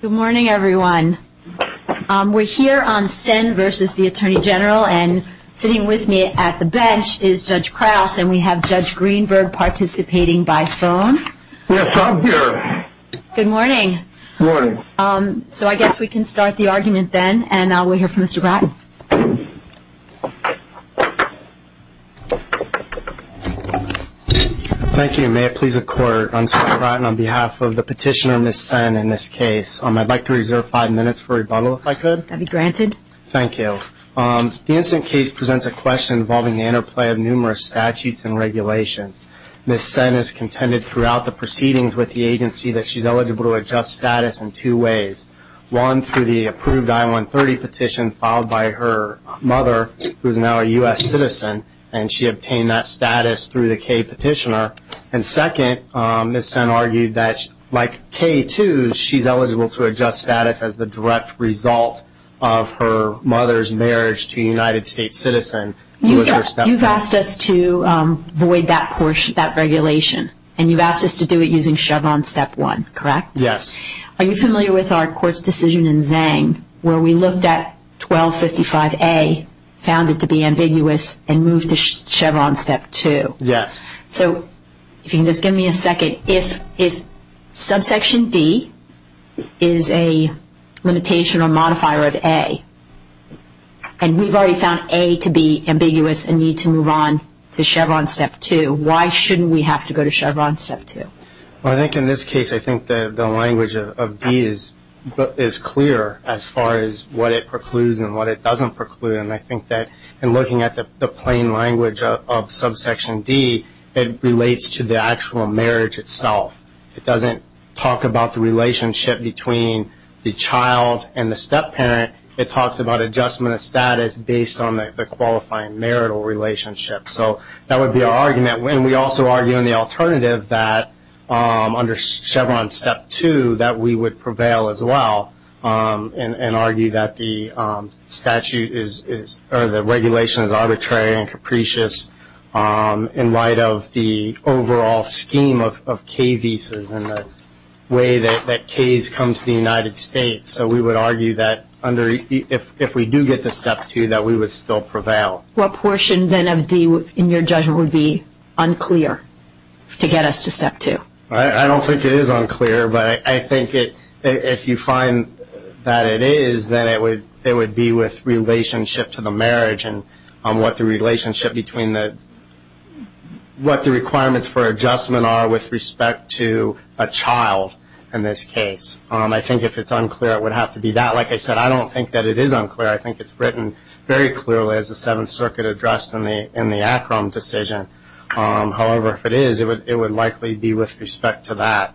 Good morning everyone. We're here on Senn versus the Attorney General and sitting with me at the bench is Judge Krause and we have Judge Greenberg participating by phone. Yes, I'm here. Good morning. Good morning. So I guess we can start the argument then and I'll wait here for Mr. Bratton. Thank you. May it please the Court, I'm Scott Bratton on behalf of the petitioner Ms. Senn in this case. I'd like to reserve five minutes for rebuttal if I could. That'd be granted. Thank you. The incident case presents a question involving the interplay of numerous statutes and regulations. Ms. Senn has contended throughout the proceedings with the agency that she's eligible to adjust status in two ways. One, through the approved I-130 petition filed by her mother, who is now a U.S. citizen, and she obtained that status through the Kay petitioner. And second, Ms. Senn argued that like Kay, too, she's eligible to adjust status as the direct result of her mother's marriage to a United States citizen. You've asked us to void that portion, that regulation, and you've asked us to do it using Chevron Step 1, correct? Yes. Are you familiar with our court's decision in Zhang where we looked at 1255A, found it to be ambiguous, and moved to Chevron Step 2? Yes. So if you can just give me a second, if Subsection D is a limitation or modifier of A, and we've already found A to be ambiguous and need to move on to Chevron Step 2, why shouldn't we have to go to Chevron Step 2? Well, I think in this case, I think the language of D is clear as far as what it precludes and what it doesn't preclude. And I think that in looking at the plain language of Subsection D, it relates to the actual marriage itself. It doesn't talk about the relationship between the child and the stepparent. It talks about adjustment of status based on the qualifying marital relationship. So that would be our argument. And we also argue in the alternative that under Chevron Step 2 that we would prevail as well and argue that the regulation is arbitrary and capricious in light of the overall scheme of K visas and the way that Ks come to the United States. So we would argue that if we do get to Step 2, that we would still prevail. What portion then of D in your judgment would be unclear to get us to Step 2? I don't think it is unclear, but I think if you find that it is, then it would be with relationship to the marriage and what the requirements for adjustment are with respect to a child in this case. I think if it's unclear, it would have to be that. Like I said, I don't think that it is unclear. I think it's written very clearly as the Seventh Circuit addressed in the Akron decision. However, if it is, it would likely be with respect to that.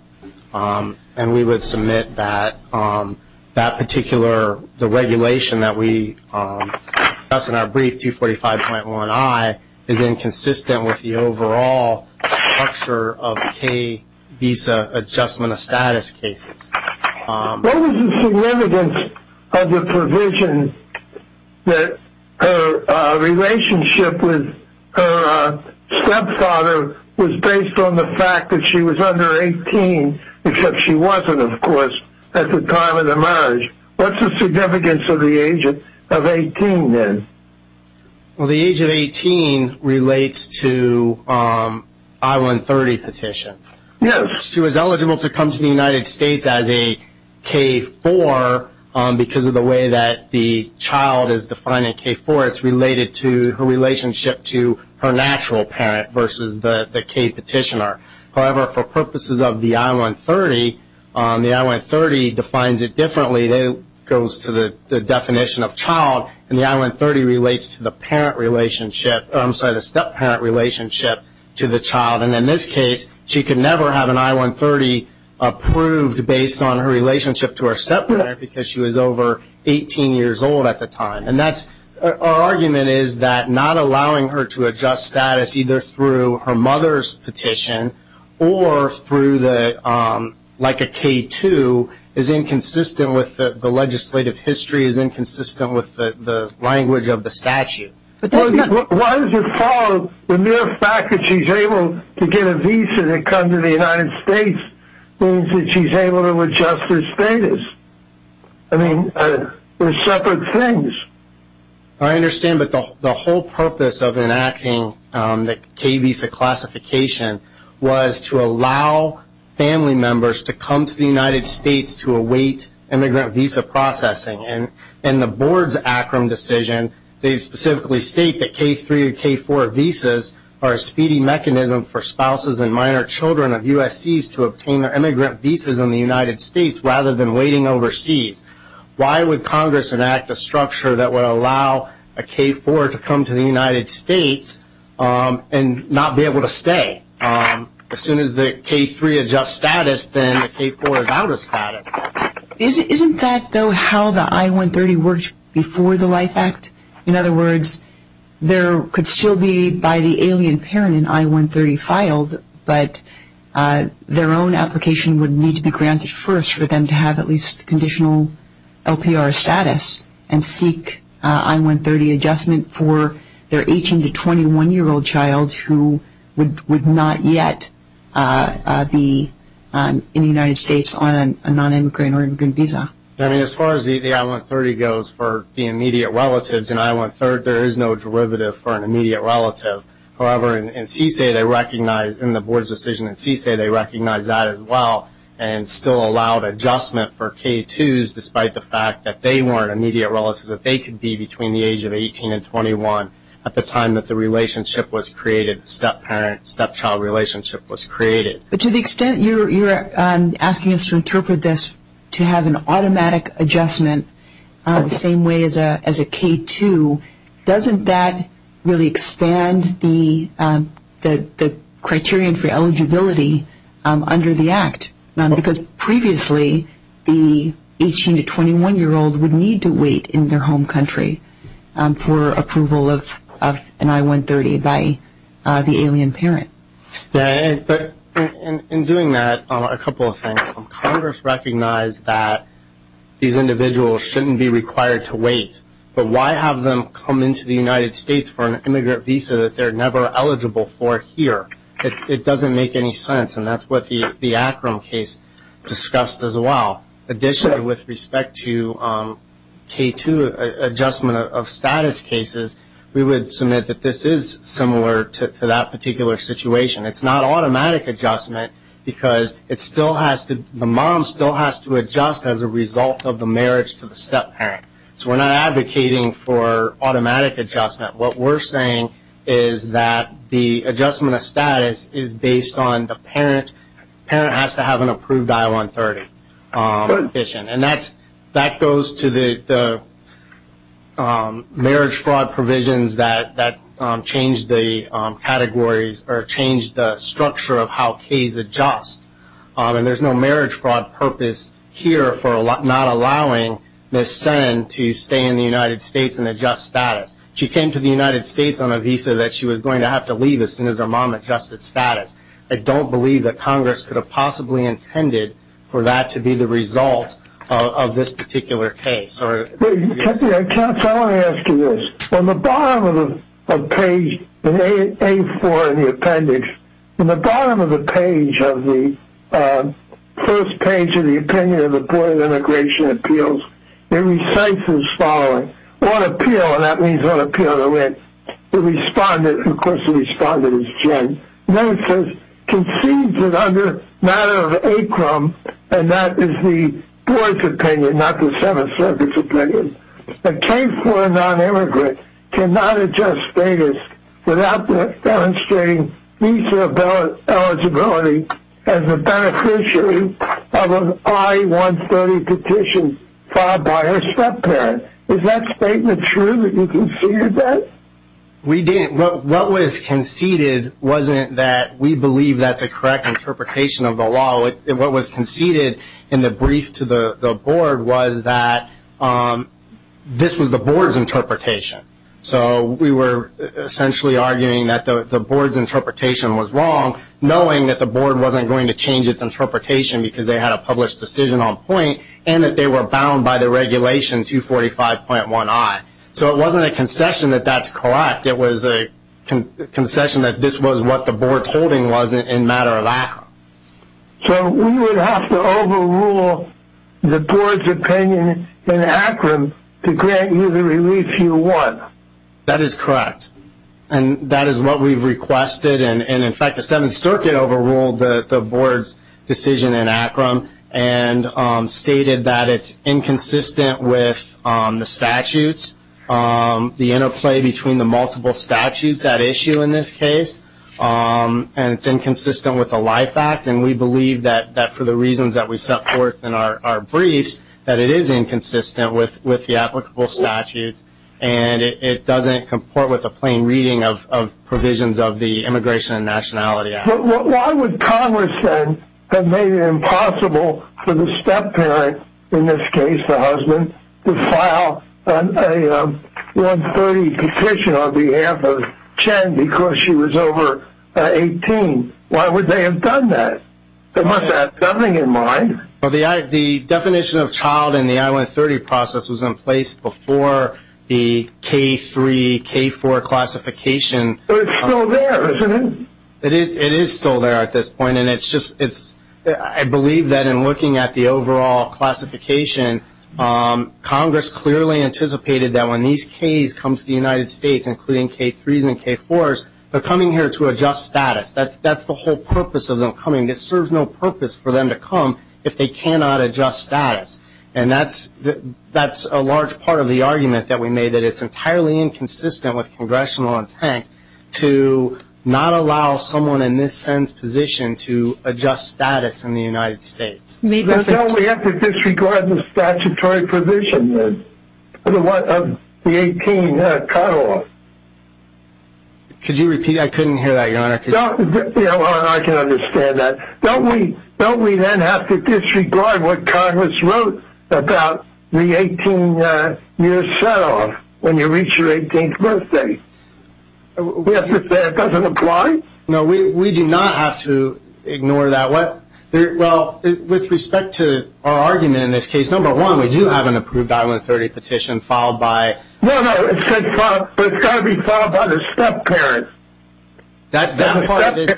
And we would submit that that particular regulation that we discussed in our brief, 245.1i, is inconsistent with the overall structure of K visa adjustment of status cases. What is the significance of the provision that her relationship with her stepdaughter was based on the fact that she was under 18, except she wasn't, of course, at the time of the marriage? What's the significance of the age of 18 then? Well, the age of 18 relates to I-130 petitions. Yes. She was eligible to come to the United States as a K-4 because of the way that the child is defined in K-4. It's related to her relationship to her natural parent versus the K petitioner. However, for purposes of the I-130, the I-130 defines it differently. It goes to the definition of child, and the I-130 relates to the step-parent relationship to the child. And in this case, she could never have an I-130 approved based on her relationship to her step-parent because she was over 18 years old at the time. And our argument is that not allowing her to adjust status either through her mother's petition or through like a K-2 is inconsistent with the legislative history, is inconsistent with the language of the statute. Why does it follow the mere fact that she's able to get a visa to come to the United States means that she's able to adjust her status? I mean, they're separate things. I understand, but the whole purpose of enacting the K visa classification was to allow family members to come to the United States to await immigrant visa processing. In the board's ACRM decision, they specifically state that K-3 and K-4 visas are a speedy mechanism for spouses and minor children of USCs to obtain their immigrant visas in the United States rather than waiting overseas. Why would Congress enact a structure that would allow a K-4 to come to the United States and not be able to stay? As soon as the K-3 adjusts status, then the K-4 is out of status. Isn't that, though, how the I-130 worked before the LIFE Act? In other words, there could still be by the alien parent an I-130 filed, but their own application would need to be granted first for them to have at least conditional LPR status and seek I-130 adjustment for their 18 to 21-year-old child who would not yet be in the United States on a non-immigrant or immigrant visa. As far as the I-130 goes for the immediate relatives, in I-130 there is no derivative for an immediate relative. However, in the board's decision in CSA, they recognize that as well and still allowed adjustment for K-2s despite the fact that they weren't immediate relatives, that they could be between the age of 18 and 21 at the time that the relationship was created, the step-child relationship was created. But to the extent you're asking us to interpret this to have an automatic adjustment the same way as a K-2, doesn't that really expand the criterion for eligibility under the Act? Because previously the 18 to 21-year-old would need to wait in their home country for approval of an I-130 by the alien parent. In doing that, a couple of things. Congress recognized that these individuals shouldn't be required to wait, but why have them come into the United States for an immigrant visa that they're never eligible for here? It doesn't make any sense, and that's what the Akron case discussed as well. Additionally, with respect to K-2 adjustment of status cases, we would submit that this is similar to that particular situation. It's not automatic adjustment because the mom still has to adjust as a result of the marriage to the step-parent. So we're not advocating for automatic adjustment. What we're saying is that the adjustment of status is based on the parent. The parent has to have an approved I-130. And that goes to the marriage fraud provisions that change the categories or change the structure of how Ks adjust. And there's no marriage fraud purpose here for not allowing Ms. Sen to stay in the United States and adjust status. She came to the United States on a visa that she was going to have to leave as soon as her mom adjusted status. I don't believe that Congress could have possibly intended for that to be the result of this particular case. I want to ask you this. On the bottom of page A-4 in the appendix, on the bottom of the page of the first page of the opinion of the Board of Immigration Appeals, it recites the following. On appeal, and that means on appeal to which the respondent, of course the respondent is Jen. Then it says, concedes that under matter of ACROM, and that is the Board's opinion, not the Seventh Circuit's opinion, a K-4 nonimmigrant cannot adjust status without demonstrating visa eligibility as a beneficiary of an I-130 petition filed by her step-parent. Is that statement true that you conceded that? We didn't. What was conceded wasn't that we believe that's a correct interpretation of the law. What was conceded in the brief to the Board was that this was the Board's interpretation. So we were essentially arguing that the Board's interpretation was wrong, knowing that the Board wasn't going to change its interpretation because they had a published decision on point and that they were bound by the regulation 245.1i. So it wasn't a concession that that's correct. It was a concession that this was what the Board's holding was in matter of ACROM. So we would have to overrule the Board's opinion in ACROM to grant you the relief you want. That is correct, and that is what we've requested. In fact, the Seventh Circuit overruled the Board's decision in ACROM and stated that it's inconsistent with the statutes, the interplay between the multiple statutes at issue in this case, and it's inconsistent with the Life Act. And we believe that for the reasons that we set forth in our briefs, that it is inconsistent with the applicable statutes, and it doesn't comport with a plain reading of provisions of the Immigration and Nationality Act. Why would Congress then have made it impossible for the stepparent, in this case the husband, to file a I-130 petition on behalf of Jen because she was over 18? Why would they have done that? They must have had something in mind. Well, the definition of child in the I-130 process was in place before the K-3, K-4 classification. But it's still there, isn't it? It is still there at this point, and I believe that in looking at the overall classification, Congress clearly anticipated that when these Ks come to the United States, including K-3s and K-4s, they're coming here to adjust status. That's the whole purpose of them coming. It serves no purpose for them to come if they cannot adjust status. And that's a large part of the argument that we made, that it's entirely inconsistent with congressional intent to not allow someone in this sense position to adjust status in the United States. Don't we have to disregard the statutory provision of the 18 cutoff? Could you repeat that? I couldn't hear that, Your Honor. I can understand that. Don't we then have to disregard what Congress wrote about the 18-year setoff when you reach your 18th birthday? We have to say it doesn't apply? No, we do not have to ignore that. Well, with respect to our argument in this case, number one, we do have an approved I-130 petition filed by the step-parent. The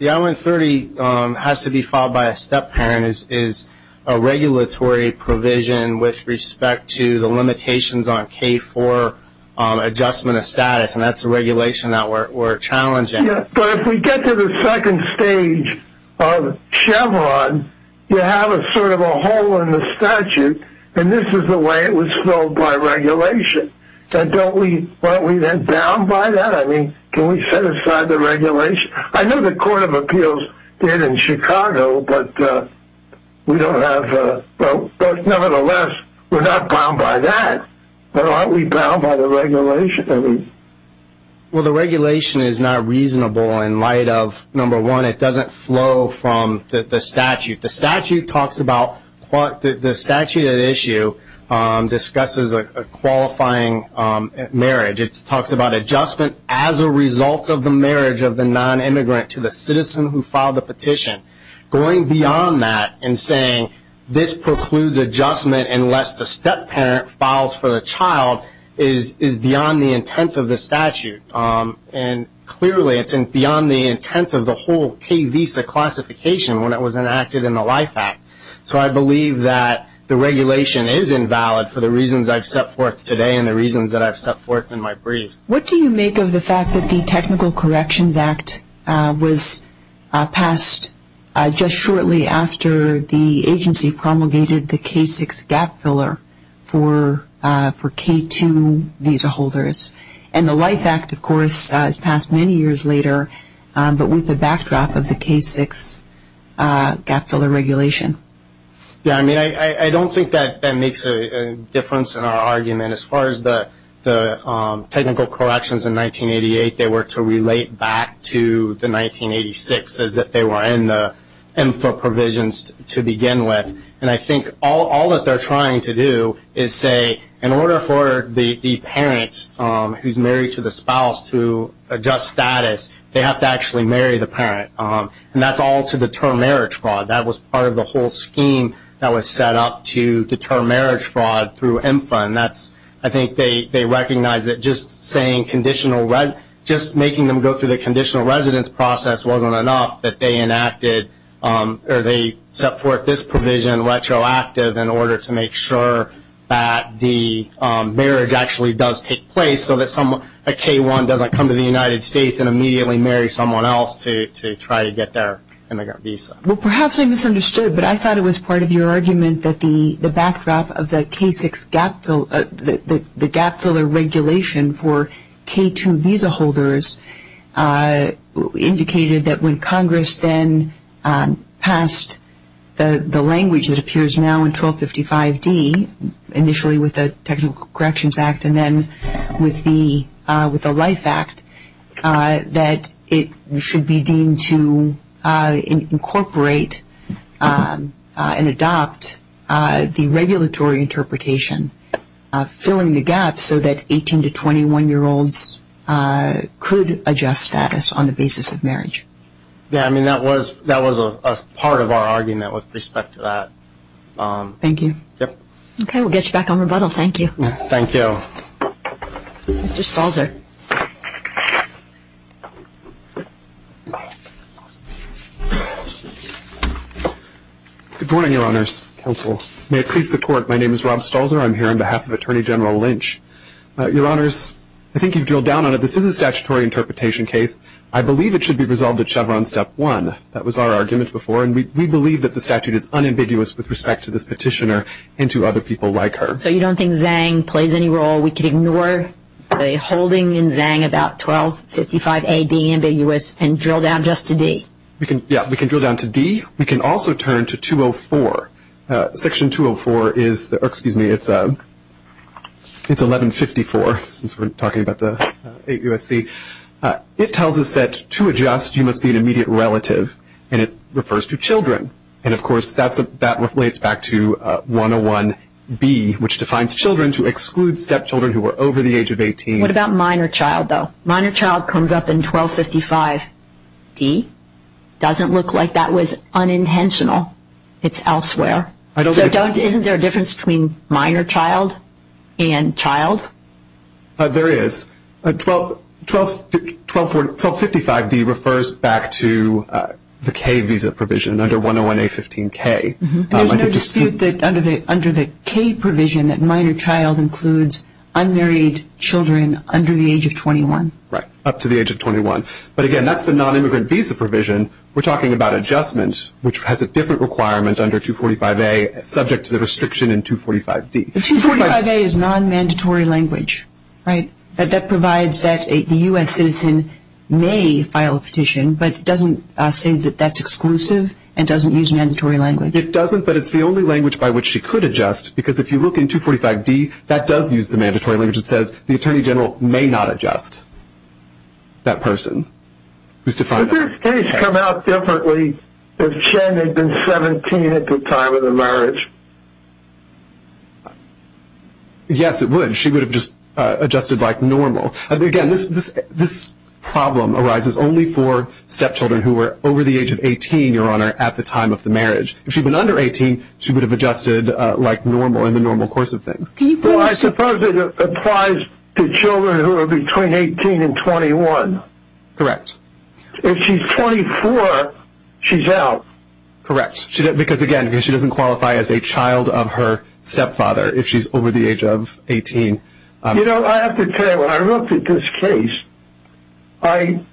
I-130 has to be filed by a step-parent is a regulatory provision with respect to the limitations on K-4 adjustment of status, and that's a regulation that we're challenging. But if we get to the second stage of Chevron, you have sort of a hole in the statute, and this is the way it was filled by regulation. Don't we then bound by that? I mean, can we set aside the regulation? I know the Court of Appeals did in Chicago, but nevertheless, we're not bound by that. But aren't we bound by the regulation? Well, the regulation is not reasonable in light of, number one, it doesn't flow from the statute. The statute talks about the statute at issue discusses a qualifying marriage. It talks about adjustment as a result of the marriage of the non-immigrant to the citizen who filed the petition. Going beyond that and saying this precludes adjustment unless the step-parent files for the child is beyond the intent of the statute. And clearly it's beyond the intent of the whole K-Visa classification when it was enacted in the Life Act. So I believe that the regulation is invalid for the reasons I've set forth today and the reasons that I've set forth in my briefs. What do you make of the fact that the Technical Corrections Act was passed just shortly after the agency promulgated the K-6 gap filler for K-2 visa holders? And the Life Act, of course, was passed many years later, but with the backdrop of the K-6 gap filler regulation. Yeah, I mean, I don't think that makes a difference in our argument. As far as the technical corrections in 1988, they were to relate back to the 1986 as if they were in the MFA provisions to begin with. And I think all that they're trying to do is say in order for the parent who's married to the spouse to adjust status, they have to actually marry the parent. And that's all to deter marriage fraud. That was part of the whole scheme that was set up to deter marriage fraud through MFA. And I think they recognize that just making them go through the conditional residence process wasn't enough that they enacted or they set forth this provision retroactive in order to make sure that the marriage actually does take place so that a K-1 doesn't come to the United States and immediately marry someone else to try to get their immigrant visa. Well, perhaps I misunderstood, but I thought it was part of your argument that the backdrop of the K-6 gap filler regulation for K-2 visa holders indicated that when Congress then passed the language that appears now in 1255D, initially with the Technical Corrections Act and then with the Life Act, that it should be deemed to incorporate and adopt the regulatory interpretation filling the gap so that 18 to 21-year-olds could adjust status on the basis of marriage. Yeah, I mean, that was a part of our argument with respect to that. Thank you. Yep. Okay, we'll get you back on rebuttal. Thank you. Thank you. Mr. Stalzer. Good morning, Your Honors. Counsel, may it please the Court, my name is Rob Stalzer. I'm here on behalf of Attorney General Lynch. Your Honors, I think you've drilled down on it. This is a statutory interpretation case. I believe it should be resolved at Chevron Step 1. That was our argument before, and we believe that the statute is unambiguous with respect to this petitioner and to other people like her. So you don't think Zhang plays any role? We could ignore a holding in Zhang about 1255A being ambiguous and drill down just to D? Yeah, we can drill down to D. We can also turn to Section 204. It's 1154, since we're talking about the 8 U.S.C. It tells us that to adjust, you must be an immediate relative, and it refers to children. And, of course, that relates back to 101B, which defines children to exclude stepchildren who are over the age of 18. What about minor child, though? Minor child comes up in 1255D. Doesn't look like that was unintentional. It's elsewhere. So isn't there a difference between minor child and child? There is. 1255D refers back to the K visa provision under 101A15K. There's no dispute that under the K provision that minor child includes unmarried children under the age of 21. Right, up to the age of 21. But, again, that's the nonimmigrant visa provision. We're talking about adjustment, which has a different requirement under 245A, subject to the restriction in 245D. 245A is nonmandatory language, right? That provides that the U.S. citizen may file a petition, but it doesn't say that that's exclusive and doesn't use mandatory language. It doesn't, but it's the only language by which she could adjust, because if you look in 245D, that does use the mandatory language. It says the Attorney General may not adjust that person. Would this case come out differently if Jen had been 17 at the time of the marriage? Yes, it would. She would have just adjusted like normal. Again, this problem arises only for stepchildren who are over the age of 18, Your Honor, at the time of the marriage. If she had been under 18, she would have adjusted like normal in the normal course of things. Well, I suppose it applies to children who are between 18 and 21. Correct. If she's 24, she's out. Correct. Because, again, she doesn't qualify as a child of her stepfather if she's over the age of 18. You know, I have to tell you, when I looked at this case, I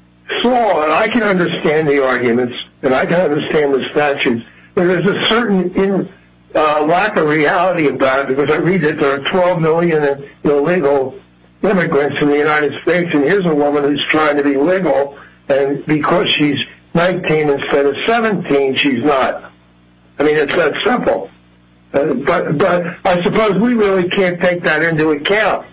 saw, and I can understand the arguments and I can understand the statutes, there is a certain lack of reality about it. Because I read that there are 12 million illegal immigrants in the United States, and here's a woman who's trying to be legal, and because she's 19 instead of 17, she's not. I mean, it's that simple. But I suppose we really can't take that into account.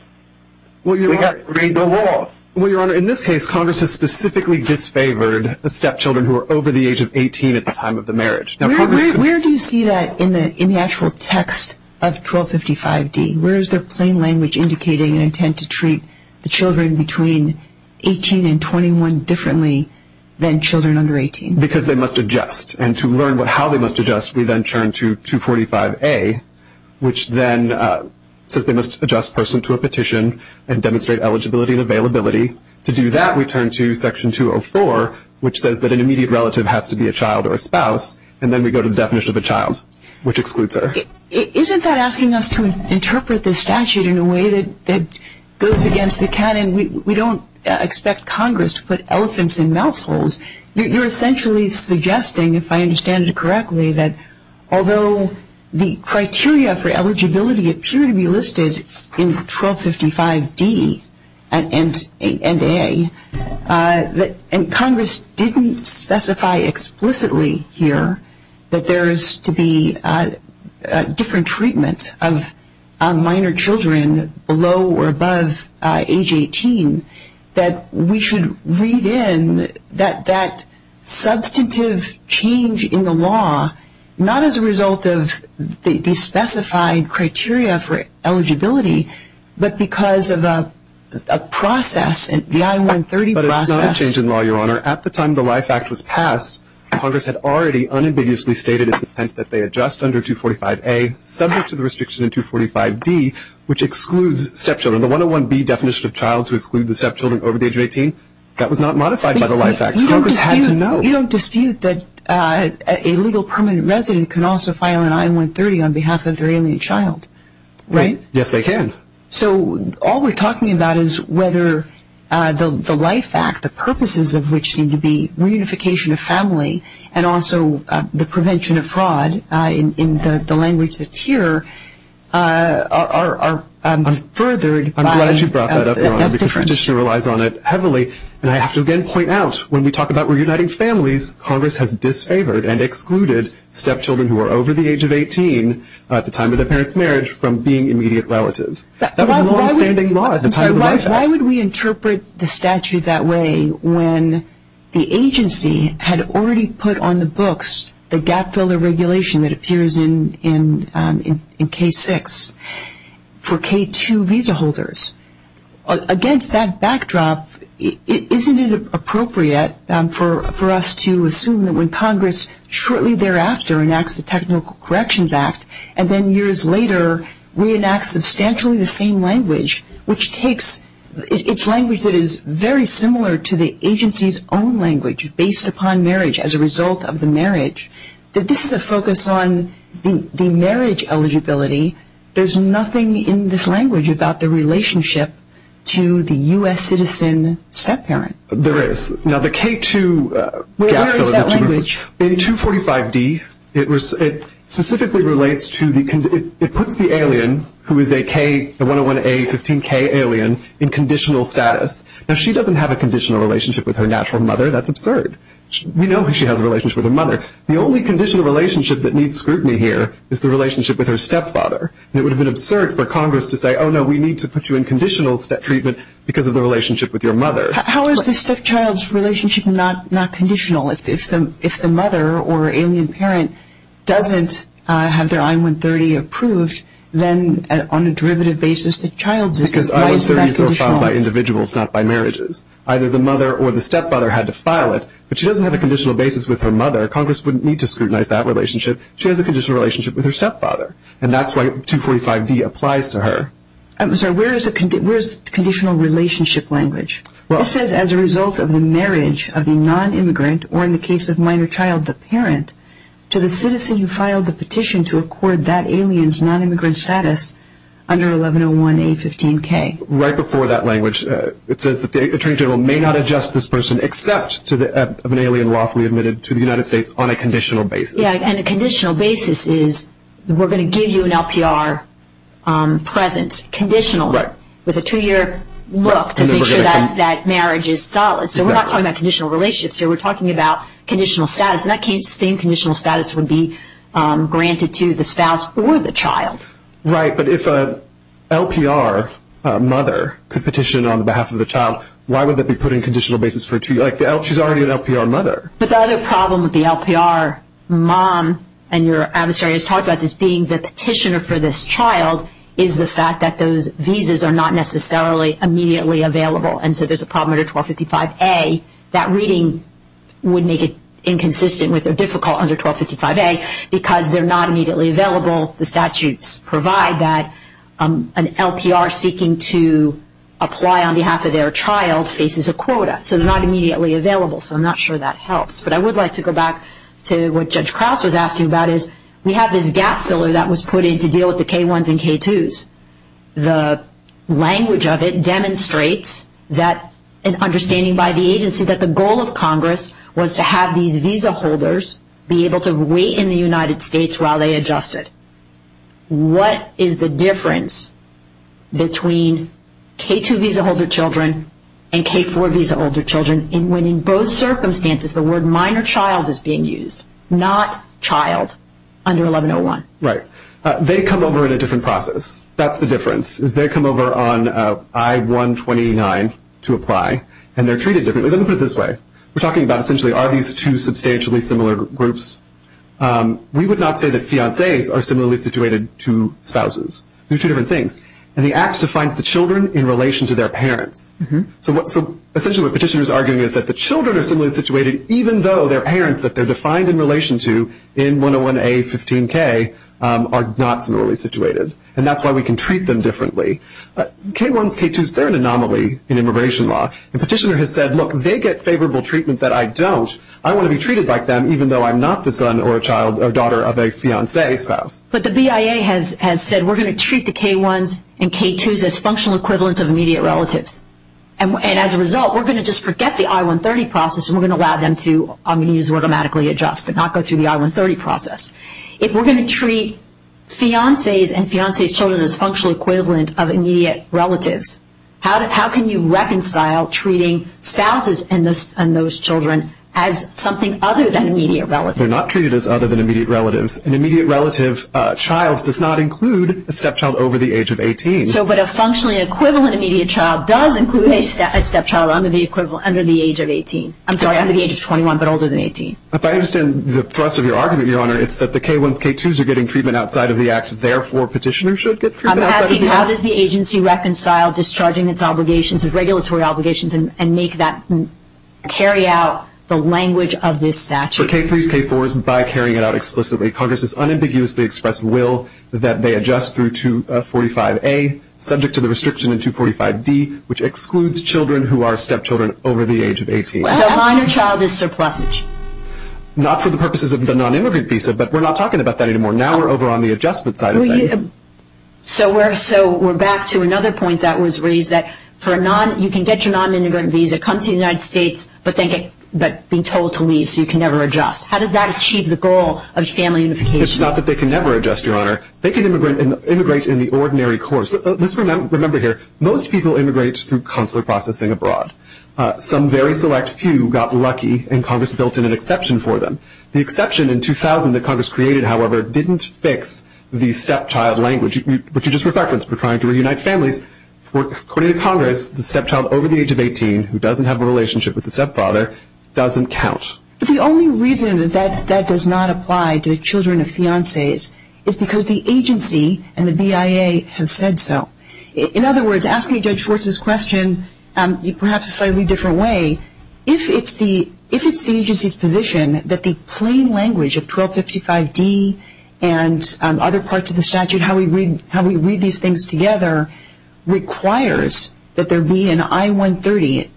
We have to read the law. Well, Your Honor, in this case, Congress has specifically disfavored the stepchildren who are over the age of 18 at the time of the marriage. Where do you see that in the actual text of 1255D? Where is the plain language indicating an intent to treat the children between 18 and 21 differently than children under 18? Because they must adjust. And to learn how they must adjust, we then turn to 245A, which then says they must adjust person to a petition and demonstrate eligibility and availability. To do that, we turn to Section 204, which says that an immediate relative has to be a child or a spouse, and then we go to the definition of a child, which excludes her. Isn't that asking us to interpret this statute in a way that goes against the canon? We don't expect Congress to put elephants in mouse holes. You're essentially suggesting, if I understand it correctly, that although the criteria for eligibility appear to be listed in 1255D and 8A, and Congress didn't specify explicitly here that there is to be different treatment of minor children below or above age 18, that we should read in that that substantive change in the law, not as a result of the specified criteria for eligibility, but because of a process, the I-130 process. But it's not a change in law, Your Honor. At the time the Life Act was passed, Congress had already unambiguously stated its intent that they adjust under 245A, subject to the restriction in 245D, which excludes stepchildren. The 101B definition of child to exclude the stepchildren over the age of 18, that was not modified by the Life Act. Congress had to know. You don't dispute that a legal permanent resident can also file an I-130 on behalf of their alien child, right? Yes, they can. So all we're talking about is whether the Life Act, the purposes of which seem to be reunification of family, and also the prevention of fraud in the language that's here, are furthered by that difference. I'm glad you brought that up, Your Honor, because you just relies on it heavily. And I have to again point out, when we talk about reuniting families, Congress has disfavored and excluded stepchildren who are over the age of 18, at the time of their parents' marriage, from being immediate relatives. That was a longstanding law at the time of the Life Act. Why would we interpret the statute that way when the agency had already put on the books the gap-filler regulation that appears in K-6 for K-2 visa holders? Against that backdrop, isn't it appropriate for us to assume that when Congress shortly thereafter enacts the Technical Corrections Act and then years later reenacts substantially the same language, which takes its language that is very similar to the agency's own language, based upon marriage as a result of the marriage, that this is a focus on the marriage eligibility. There's nothing in this language about the relationship to the U.S. citizen step-parent. There is. Now, the K-2 gap-filler… Where is that language? In 245D, it specifically relates to the… It puts the alien who is a K, a 101A, 15K alien, in conditional status. Now, she doesn't have a conditional relationship with her natural mother. That's absurd. We know she has a relationship with her mother. The only conditional relationship that needs scrutiny here is the relationship with her stepfather. It would have been absurd for Congress to say, oh, no, we need to put you in conditional treatment because of the relationship with your mother. How is the stepchild's relationship not conditional? If the mother or alien parent doesn't have their I-130 approved, then on a derivative basis the child's is not conditional. Because I-130s are filed by individuals, not by marriages. Either the mother or the stepfather had to file it, but she doesn't have a conditional basis with her mother. Congress wouldn't need to scrutinize that relationship. She has a conditional relationship with her stepfather, and that's why 245D applies to her. I'm sorry, where is the conditional relationship language? It says, as a result of the marriage of the nonimmigrant, or in the case of minor child, the parent, to the citizen who filed the petition to accord that alien's nonimmigrant status under 1101A15K. Right before that language, it says that the attorney general may not adjust this person except of an alien lawfully admitted to the United States on a conditional basis. Yeah, and a conditional basis is we're going to give you an LPR presence, conditional, with a two-year look to make sure that marriage is solid. So we're not talking about conditional relationships here. We're talking about conditional status, and that same conditional status would be granted to the spouse or the child. Right, but if an LPR mother could petition on behalf of the child, why would that be put in conditional basis for a two-year-old? She's already an LPR mother. But the other problem with the LPR mom, and your adversary has talked about this, for this child is the fact that those visas are not necessarily immediately available, and so there's a problem under 1255A. That reading would make it inconsistent with or difficult under 1255A because they're not immediately available. The statutes provide that an LPR seeking to apply on behalf of their child faces a quota, so they're not immediately available, so I'm not sure that helps. But I would like to go back to what Judge Krause was asking about, which is we have this gap filler that was put in to deal with the K-1s and K-2s. The language of it demonstrates that an understanding by the agency that the goal of Congress was to have these visa holders be able to wait in the United States while they adjusted. What is the difference between K-2 visa holder children and K-4 visa holder children when in both circumstances the word minor child is being used, not child under 1101? Right. They come over in a different process. That's the difference is they come over on I-129 to apply, and they're treated differently. Let me put it this way. We're talking about essentially are these two substantially similar groups. We would not say that fiancees are similarly situated to spouses. They're two different things, and the Act defines the children in relation to their parents. So essentially what the petitioner is arguing is that the children are similarly situated even though their parents that they're defined in relation to in 101A-15K are not similarly situated, and that's why we can treat them differently. K-1s, K-2s, they're an anomaly in immigration law. The petitioner has said, look, they get favorable treatment that I don't. I want to be treated like them even though I'm not the son or daughter of a fiancee spouse. But the BIA has said we're going to treat the K-1s and K-2s as functional equivalents of immediate relatives, and as a result we're going to just forget the I-130 process, and we're going to allow them to automatically adjust but not go through the I-130 process. If we're going to treat fiancees and fiancees' children as functional equivalent of immediate relatives, how can you reconcile treating spouses and those children as something other than immediate relatives? They're not treated as other than immediate relatives. An immediate relative child does not include a stepchild over the age of 18. So but a functionally equivalent immediate child does include a stepchild under the age of 18. I'm sorry, under the age of 21 but older than 18. If I understand the thrust of your argument, Your Honor, it's that the K-1s, K-2s are getting treatment outside of the act, therefore petitioners should get treatment outside of the act. I'm asking how does the agency reconcile discharging its obligations, its regulatory obligations, and make that carry out the language of this statute? For K-3s, K-4s, by carrying it out explicitly, Congress has unambiguously expressed will that they adjust through 245A, subject to the restriction in 245D, which excludes children who are stepchildren over the age of 18. So a minor child is surplusage? Not for the purposes of the nonimmigrant visa, but we're not talking about that anymore. Now we're over on the adjustment side of things. So we're back to another point that was raised that you can get your nonimmigrant visa, come to the United States, but being told to leave so you can never adjust. How does that achieve the goal of family unification? It's not that they can never adjust, Your Honor. They can immigrate in the ordinary course. Let's remember here, most people immigrate through consular processing abroad. Some very select few got lucky, and Congress built in an exception for them. The exception in 2000 that Congress created, however, didn't fix the stepchild language, which you just referenced, for trying to reunite families. According to Congress, the stepchild over the age of 18 who doesn't have a relationship with the stepfather doesn't count. But the only reason that that does not apply to children of fiances is because the agency and the BIA have said so. In other words, asking Judge Schwartz's question, perhaps a slightly different way, if it's the agency's position that the plain language of 1255D and other parts of the statute, how we read these things together, requires that there be an I-130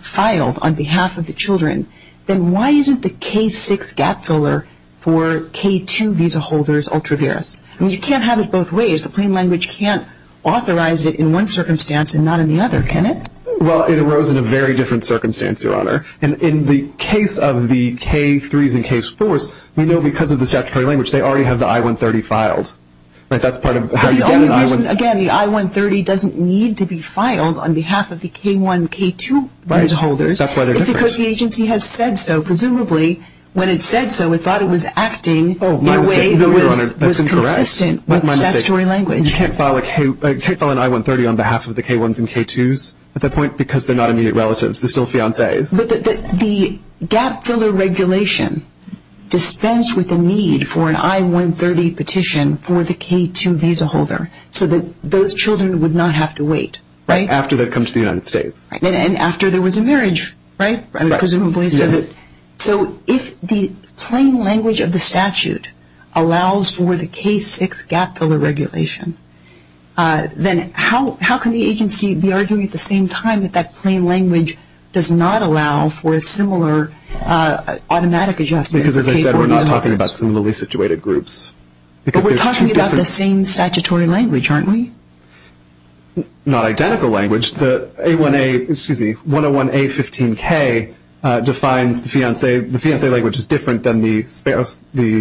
filed on behalf of the children, then why isn't the K-6 gap filler for K-2 visa holders ultra vires? I mean, you can't have it both ways. The plain language can't authorize it in one circumstance and not in the other, can it? Well, it arose in a very different circumstance, Your Honor. And in the case of the K-3s and K-4s, we know because of the statutory language, they already have the I-130 filed. Right? That's part of how you get an I-130. Again, the I-130 doesn't need to be filed on behalf of the K-1, K-2 visa holders. Right. That's why they're different. It's because the agency has said so. Presumably, when it said so, it thought it was acting in a way that was consistent with the statutory language. Oh, my mistake. No, Your Honor, that's incorrect. My mistake. You can't file an I-130 on behalf of the K-1s and K-2s at that point because they're not immediate relatives. They're still fiancés. But the gap filler regulation dispensed with the need for an I-130 petition for the K-2 visa holder so that those children would not have to wait. Right? After they've come to the United States. And after there was a marriage, right? Right. Presumably. Yes. So if the plain language of the statute allows for the K-6 gap filler regulation, then how can the agency be arguing at the same time that that plain language does not allow for a similar automatic adjustment? Because, as I said, we're not talking about similarly situated groups. But we're talking about the same statutory language, aren't we? Not identical language. The A-1A, excuse me, 101-A-15-K defines the fiancé. The fiancé language is different than the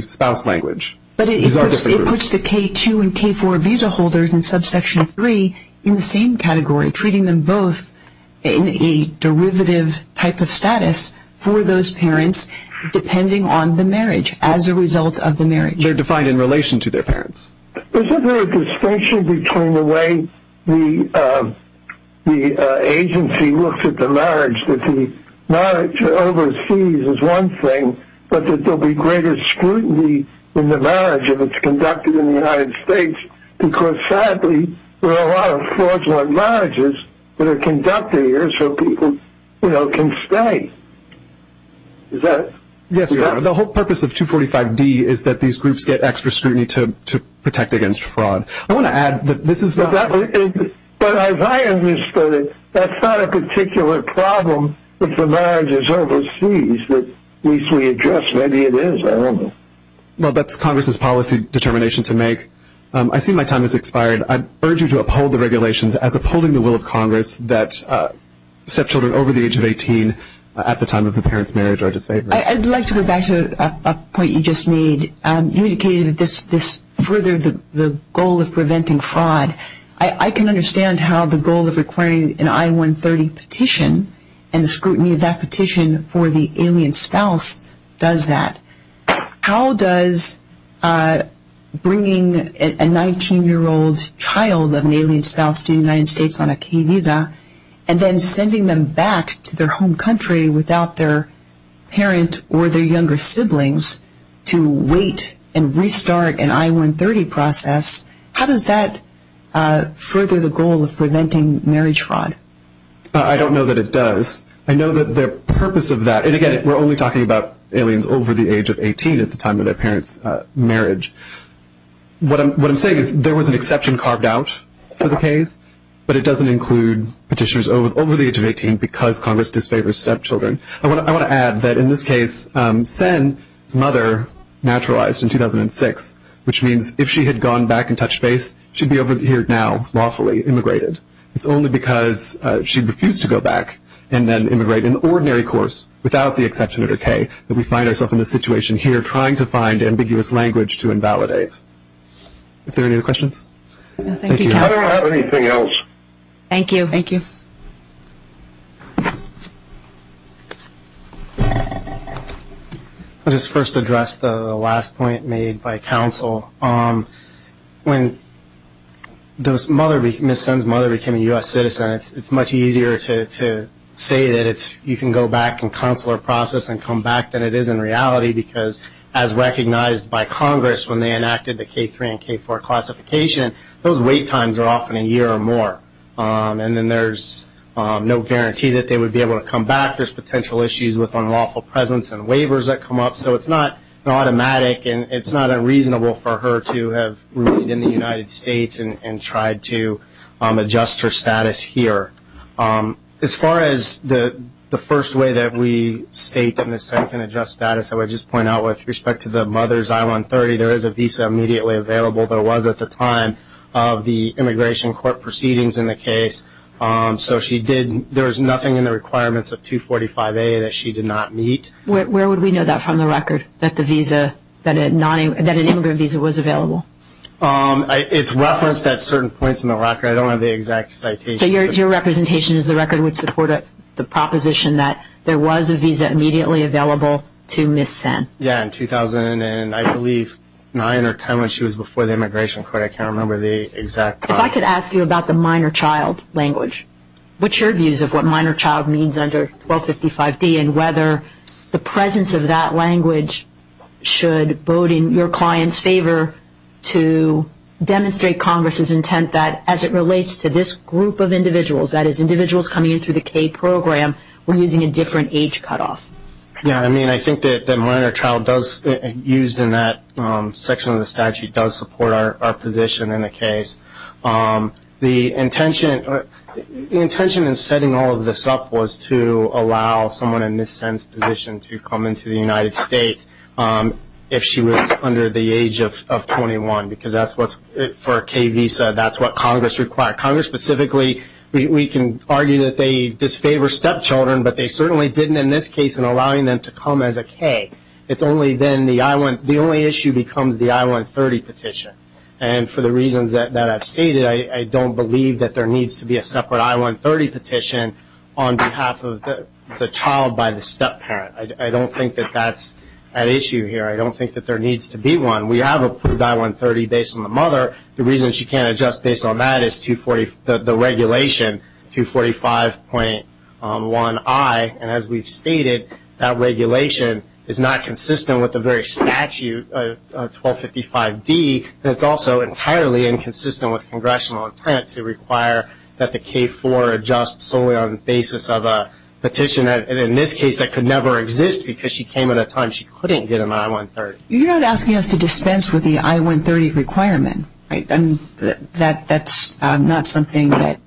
spouse language. But it puts the K-2 and K-4 visa holders in subsection 3 in the same category, treating them both in a derivative type of status for those parents depending on the marriage as a result of the marriage. They're defined in relation to their parents. Isn't there a distinction between the way the agency looks at the marriage, that the marriage overseas is one thing, but that there will be greater scrutiny in the marriage if it's conducted in the United States? Because, sadly, there are a lot of fraudulent marriages that are conducted here so people can stay. Is that it? Yes, sir. The whole purpose of 245-D is that these groups get extra scrutiny to protect against fraud. I want to add that this is not. But as I understood it, that's not a particular problem if the marriage is overseas. At least we adjust. Maybe it is. I don't know. Well, that's Congress's policy determination to make. I see my time has expired. I urge you to uphold the regulations as upholding the will of Congress that stepchildren over the age of 18 at the time of the parent's marriage are disfavored. I'd like to go back to a point you just made. You indicated this furthered the goal of preventing fraud. I can understand how the goal of requiring an I-130 petition and the scrutiny of that petition for the alien spouse does that. How does bringing a 19-year-old child of an alien spouse to the United States on a key visa and then sending them back to their home country without their parent or their younger siblings to wait and restart an I-130 process, how does that further the goal of preventing marriage fraud? I don't know that it does. I know that the purpose of that, and, again, we're only talking about aliens over the age of 18 at the time of their parent's marriage. What I'm saying is there was an exception carved out for the case, but it doesn't include petitioners over the age of 18 because Congress disfavors stepchildren. I want to add that, in this case, Sen's mother naturalized in 2006, which means if she had gone back and touched base, she'd be over here now lawfully immigrated. It's only because she refused to go back and then immigrate in the ordinary course without the exception of her K that we find ourselves in this situation here trying to find ambiguous language to invalidate. Are there any other questions? Thank you. I don't have anything else. Thank you. Thank you. I'll just first address the last point made by counsel. When Ms. Sen's mother became a U.S. citizen, it's much easier to say that you can go back and counsel her process and come back than it is in reality because, as recognized by Congress when they enacted the K3 and K4 classification, those wait times are often a year or more. And then there's no guarantee that they would be able to come back. There's potential issues with unlawful presence and waivers that come up, so it's not automatic and it's not unreasonable for her to have remained in the United States and tried to adjust her status here. As far as the first way that we state Ms. Sen can adjust status, I would just point out with respect to the mother's I-130, there is a visa immediately available that was at the time of the immigration court proceedings in the case. So there was nothing in the requirements of 245A that she did not meet. Where would we know that from the record, that an immigrant visa was available? It's referenced at certain points in the record. I don't have the exact citation. So your representation is the record would support the proposition that there was a visa immediately available to Ms. Sen? Yeah, in 2000 and I believe 9 or 10 when she was before the immigration court. I can't remember the exact time. If I could ask you about the minor child language, what's your views of what minor child means under 1255D and whether the presence of that language should bode in your client's favor to demonstrate Congress's intent that as it relates to this group of individuals, that is individuals coming in through the K program, we're using a different age cutoff. Yeah, I mean I think that minor child used in that section of the statute does support our position in the case. The intention in setting all of this up was to allow someone in Ms. Sen's position to come into the United States if she was under the age of 21 because that's what's for a K visa. That's what Congress required. Congress specifically, we can argue that they disfavor stepchildren, but they certainly didn't in this case in allowing them to come as a K. It's only then the only issue becomes the I-130 petition. And for the reasons that I've stated, I don't believe that there needs to be a separate I-130 petition on behalf of the child by the stepparent. I don't think that that's an issue here. I don't think that there needs to be one. We have approved I-130 based on the mother. The reason she can't adjust based on that is the regulation, 245.1I. And as we've stated, that regulation is not consistent with the very statute, 1255D, and it's also entirely inconsistent with congressional intent to require that the K-4 adjust solely on the basis of a petition. And in this case, that could never exist because she came at a time she couldn't get an I-130. You're not asking us to dispense with the I-130 requirement, right? That's not something that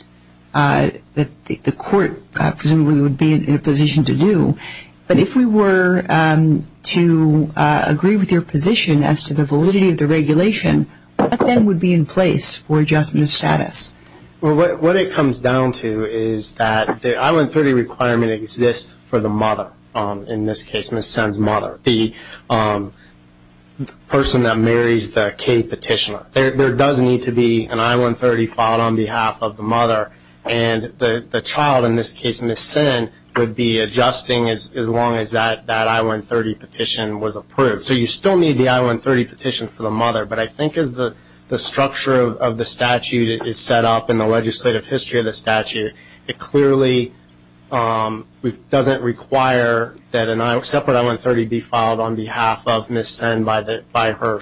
the court presumably would be in a position to do. But if we were to agree with your position as to the validity of the regulation, what then would be in place for adjustment of status? Well, what it comes down to is that the I-130 requirement exists for the mother. In this case, Ms. Senn's mother, the person that marries the K petitioner. There does need to be an I-130 filed on behalf of the mother, and the child, in this case Ms. Senn, would be adjusting as long as that I-130 petition was approved. So you still need the I-130 petition for the mother, but I think as the structure of the statute is set up in the legislative history of the statute, it clearly doesn't require that a separate I-130 be filed on behalf of Ms. Senn by her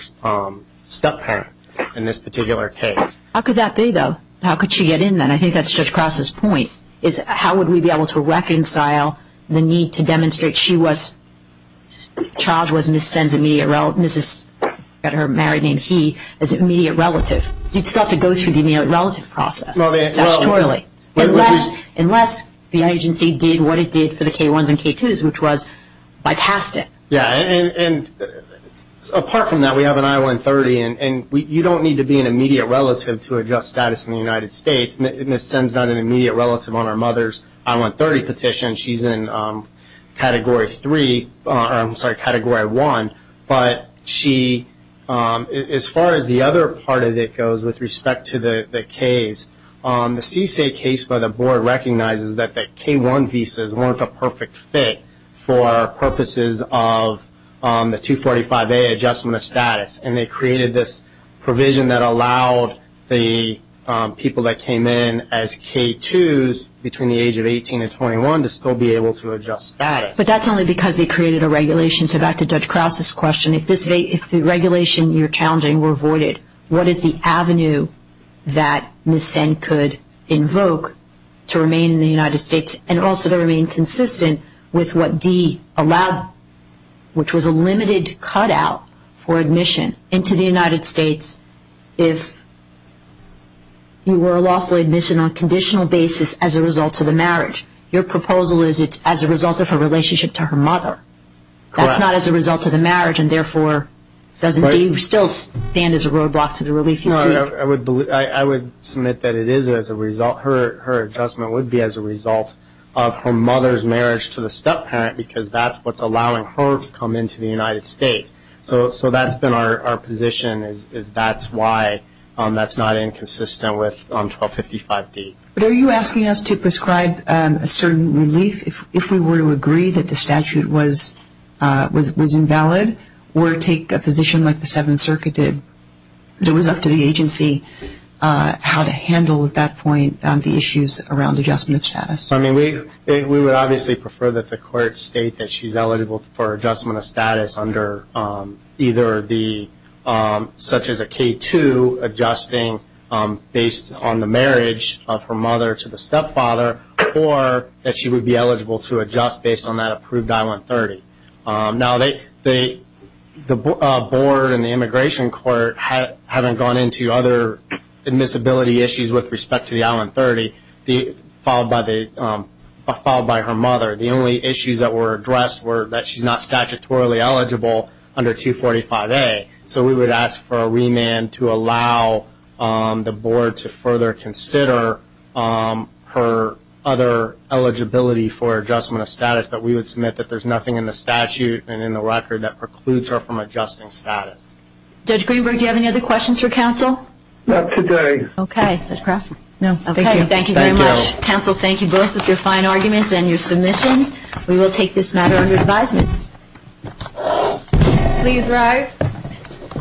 step-parent in this particular case. How could that be, though? How could she get in then? I think that's Judge Cross's point, is how would we be able to reconcile the need to demonstrate she was, the child was Ms. Senn's immediate relative, her married name, he, as an immediate relative. You'd still have to go through the immediate relative process, statutorily. Unless the agency did what it did for the K-1s and K-2s, which was bypassed it. Yeah, and apart from that, we have an I-130, and you don't need to be an immediate relative to adjust status in the United States. Ms. Senn's not an immediate relative on her mother's I-130 petition. She's in Category 1. But she, as far as the other part of it goes with respect to the Ks, the CSA case by the Board recognizes that the K-1 visas weren't a perfect fit for purposes of the 245A adjustment of status. And they created this provision that allowed the people that came in as K-2s between the age of 18 and 21 to still be able to adjust status. But that's only because they created a regulation. So back to Judge Krause's question. If the regulation you're challenging were voided, what is the avenue that Ms. Senn could invoke to remain in the United States and also to remain consistent with what D allowed, which was a limited cutout for admission into the United States if you were a lawful admission on a conditional basis as a result of the marriage. Your proposal is it's as a result of her relationship to her mother. Correct. That's not as a result of the marriage and therefore doesn't D still stand as a roadblock to the relief you seek? No, I would submit that it is as a result. Her adjustment would be as a result of her mother's marriage to the step-parent because that's what's allowing her to come into the United States. So that's been our position is that's why that's not inconsistent with 1255D. But are you asking us to prescribe a certain relief if we were to agree that the statute was invalid or take a position like the Seventh Circuit did? It was up to the agency how to handle at that point the issues around adjustment of status. I mean, we would obviously prefer that the court state that she's eligible for adjustment of status under either such as a K-2 adjusting based on the marriage of her mother to the step-father or that she would be eligible to adjust based on that approved I-130. Now, the board and the immigration court haven't gone into other admissibility issues with respect to the I-130 followed by her mother. The only issues that were addressed were that she's not statutorily eligible under 245A. So we would ask for a remand to allow the board to further consider her other eligibility for adjustment of status. But we would submit that there's nothing in the statute and in the record that precludes her from adjusting status. Judge Greenberg, do you have any other questions for counsel? Not today. Okay. Thank you very much. Counsel, thank you both with your fine arguments and your submissions. We will take this matter under advisement. Please rise.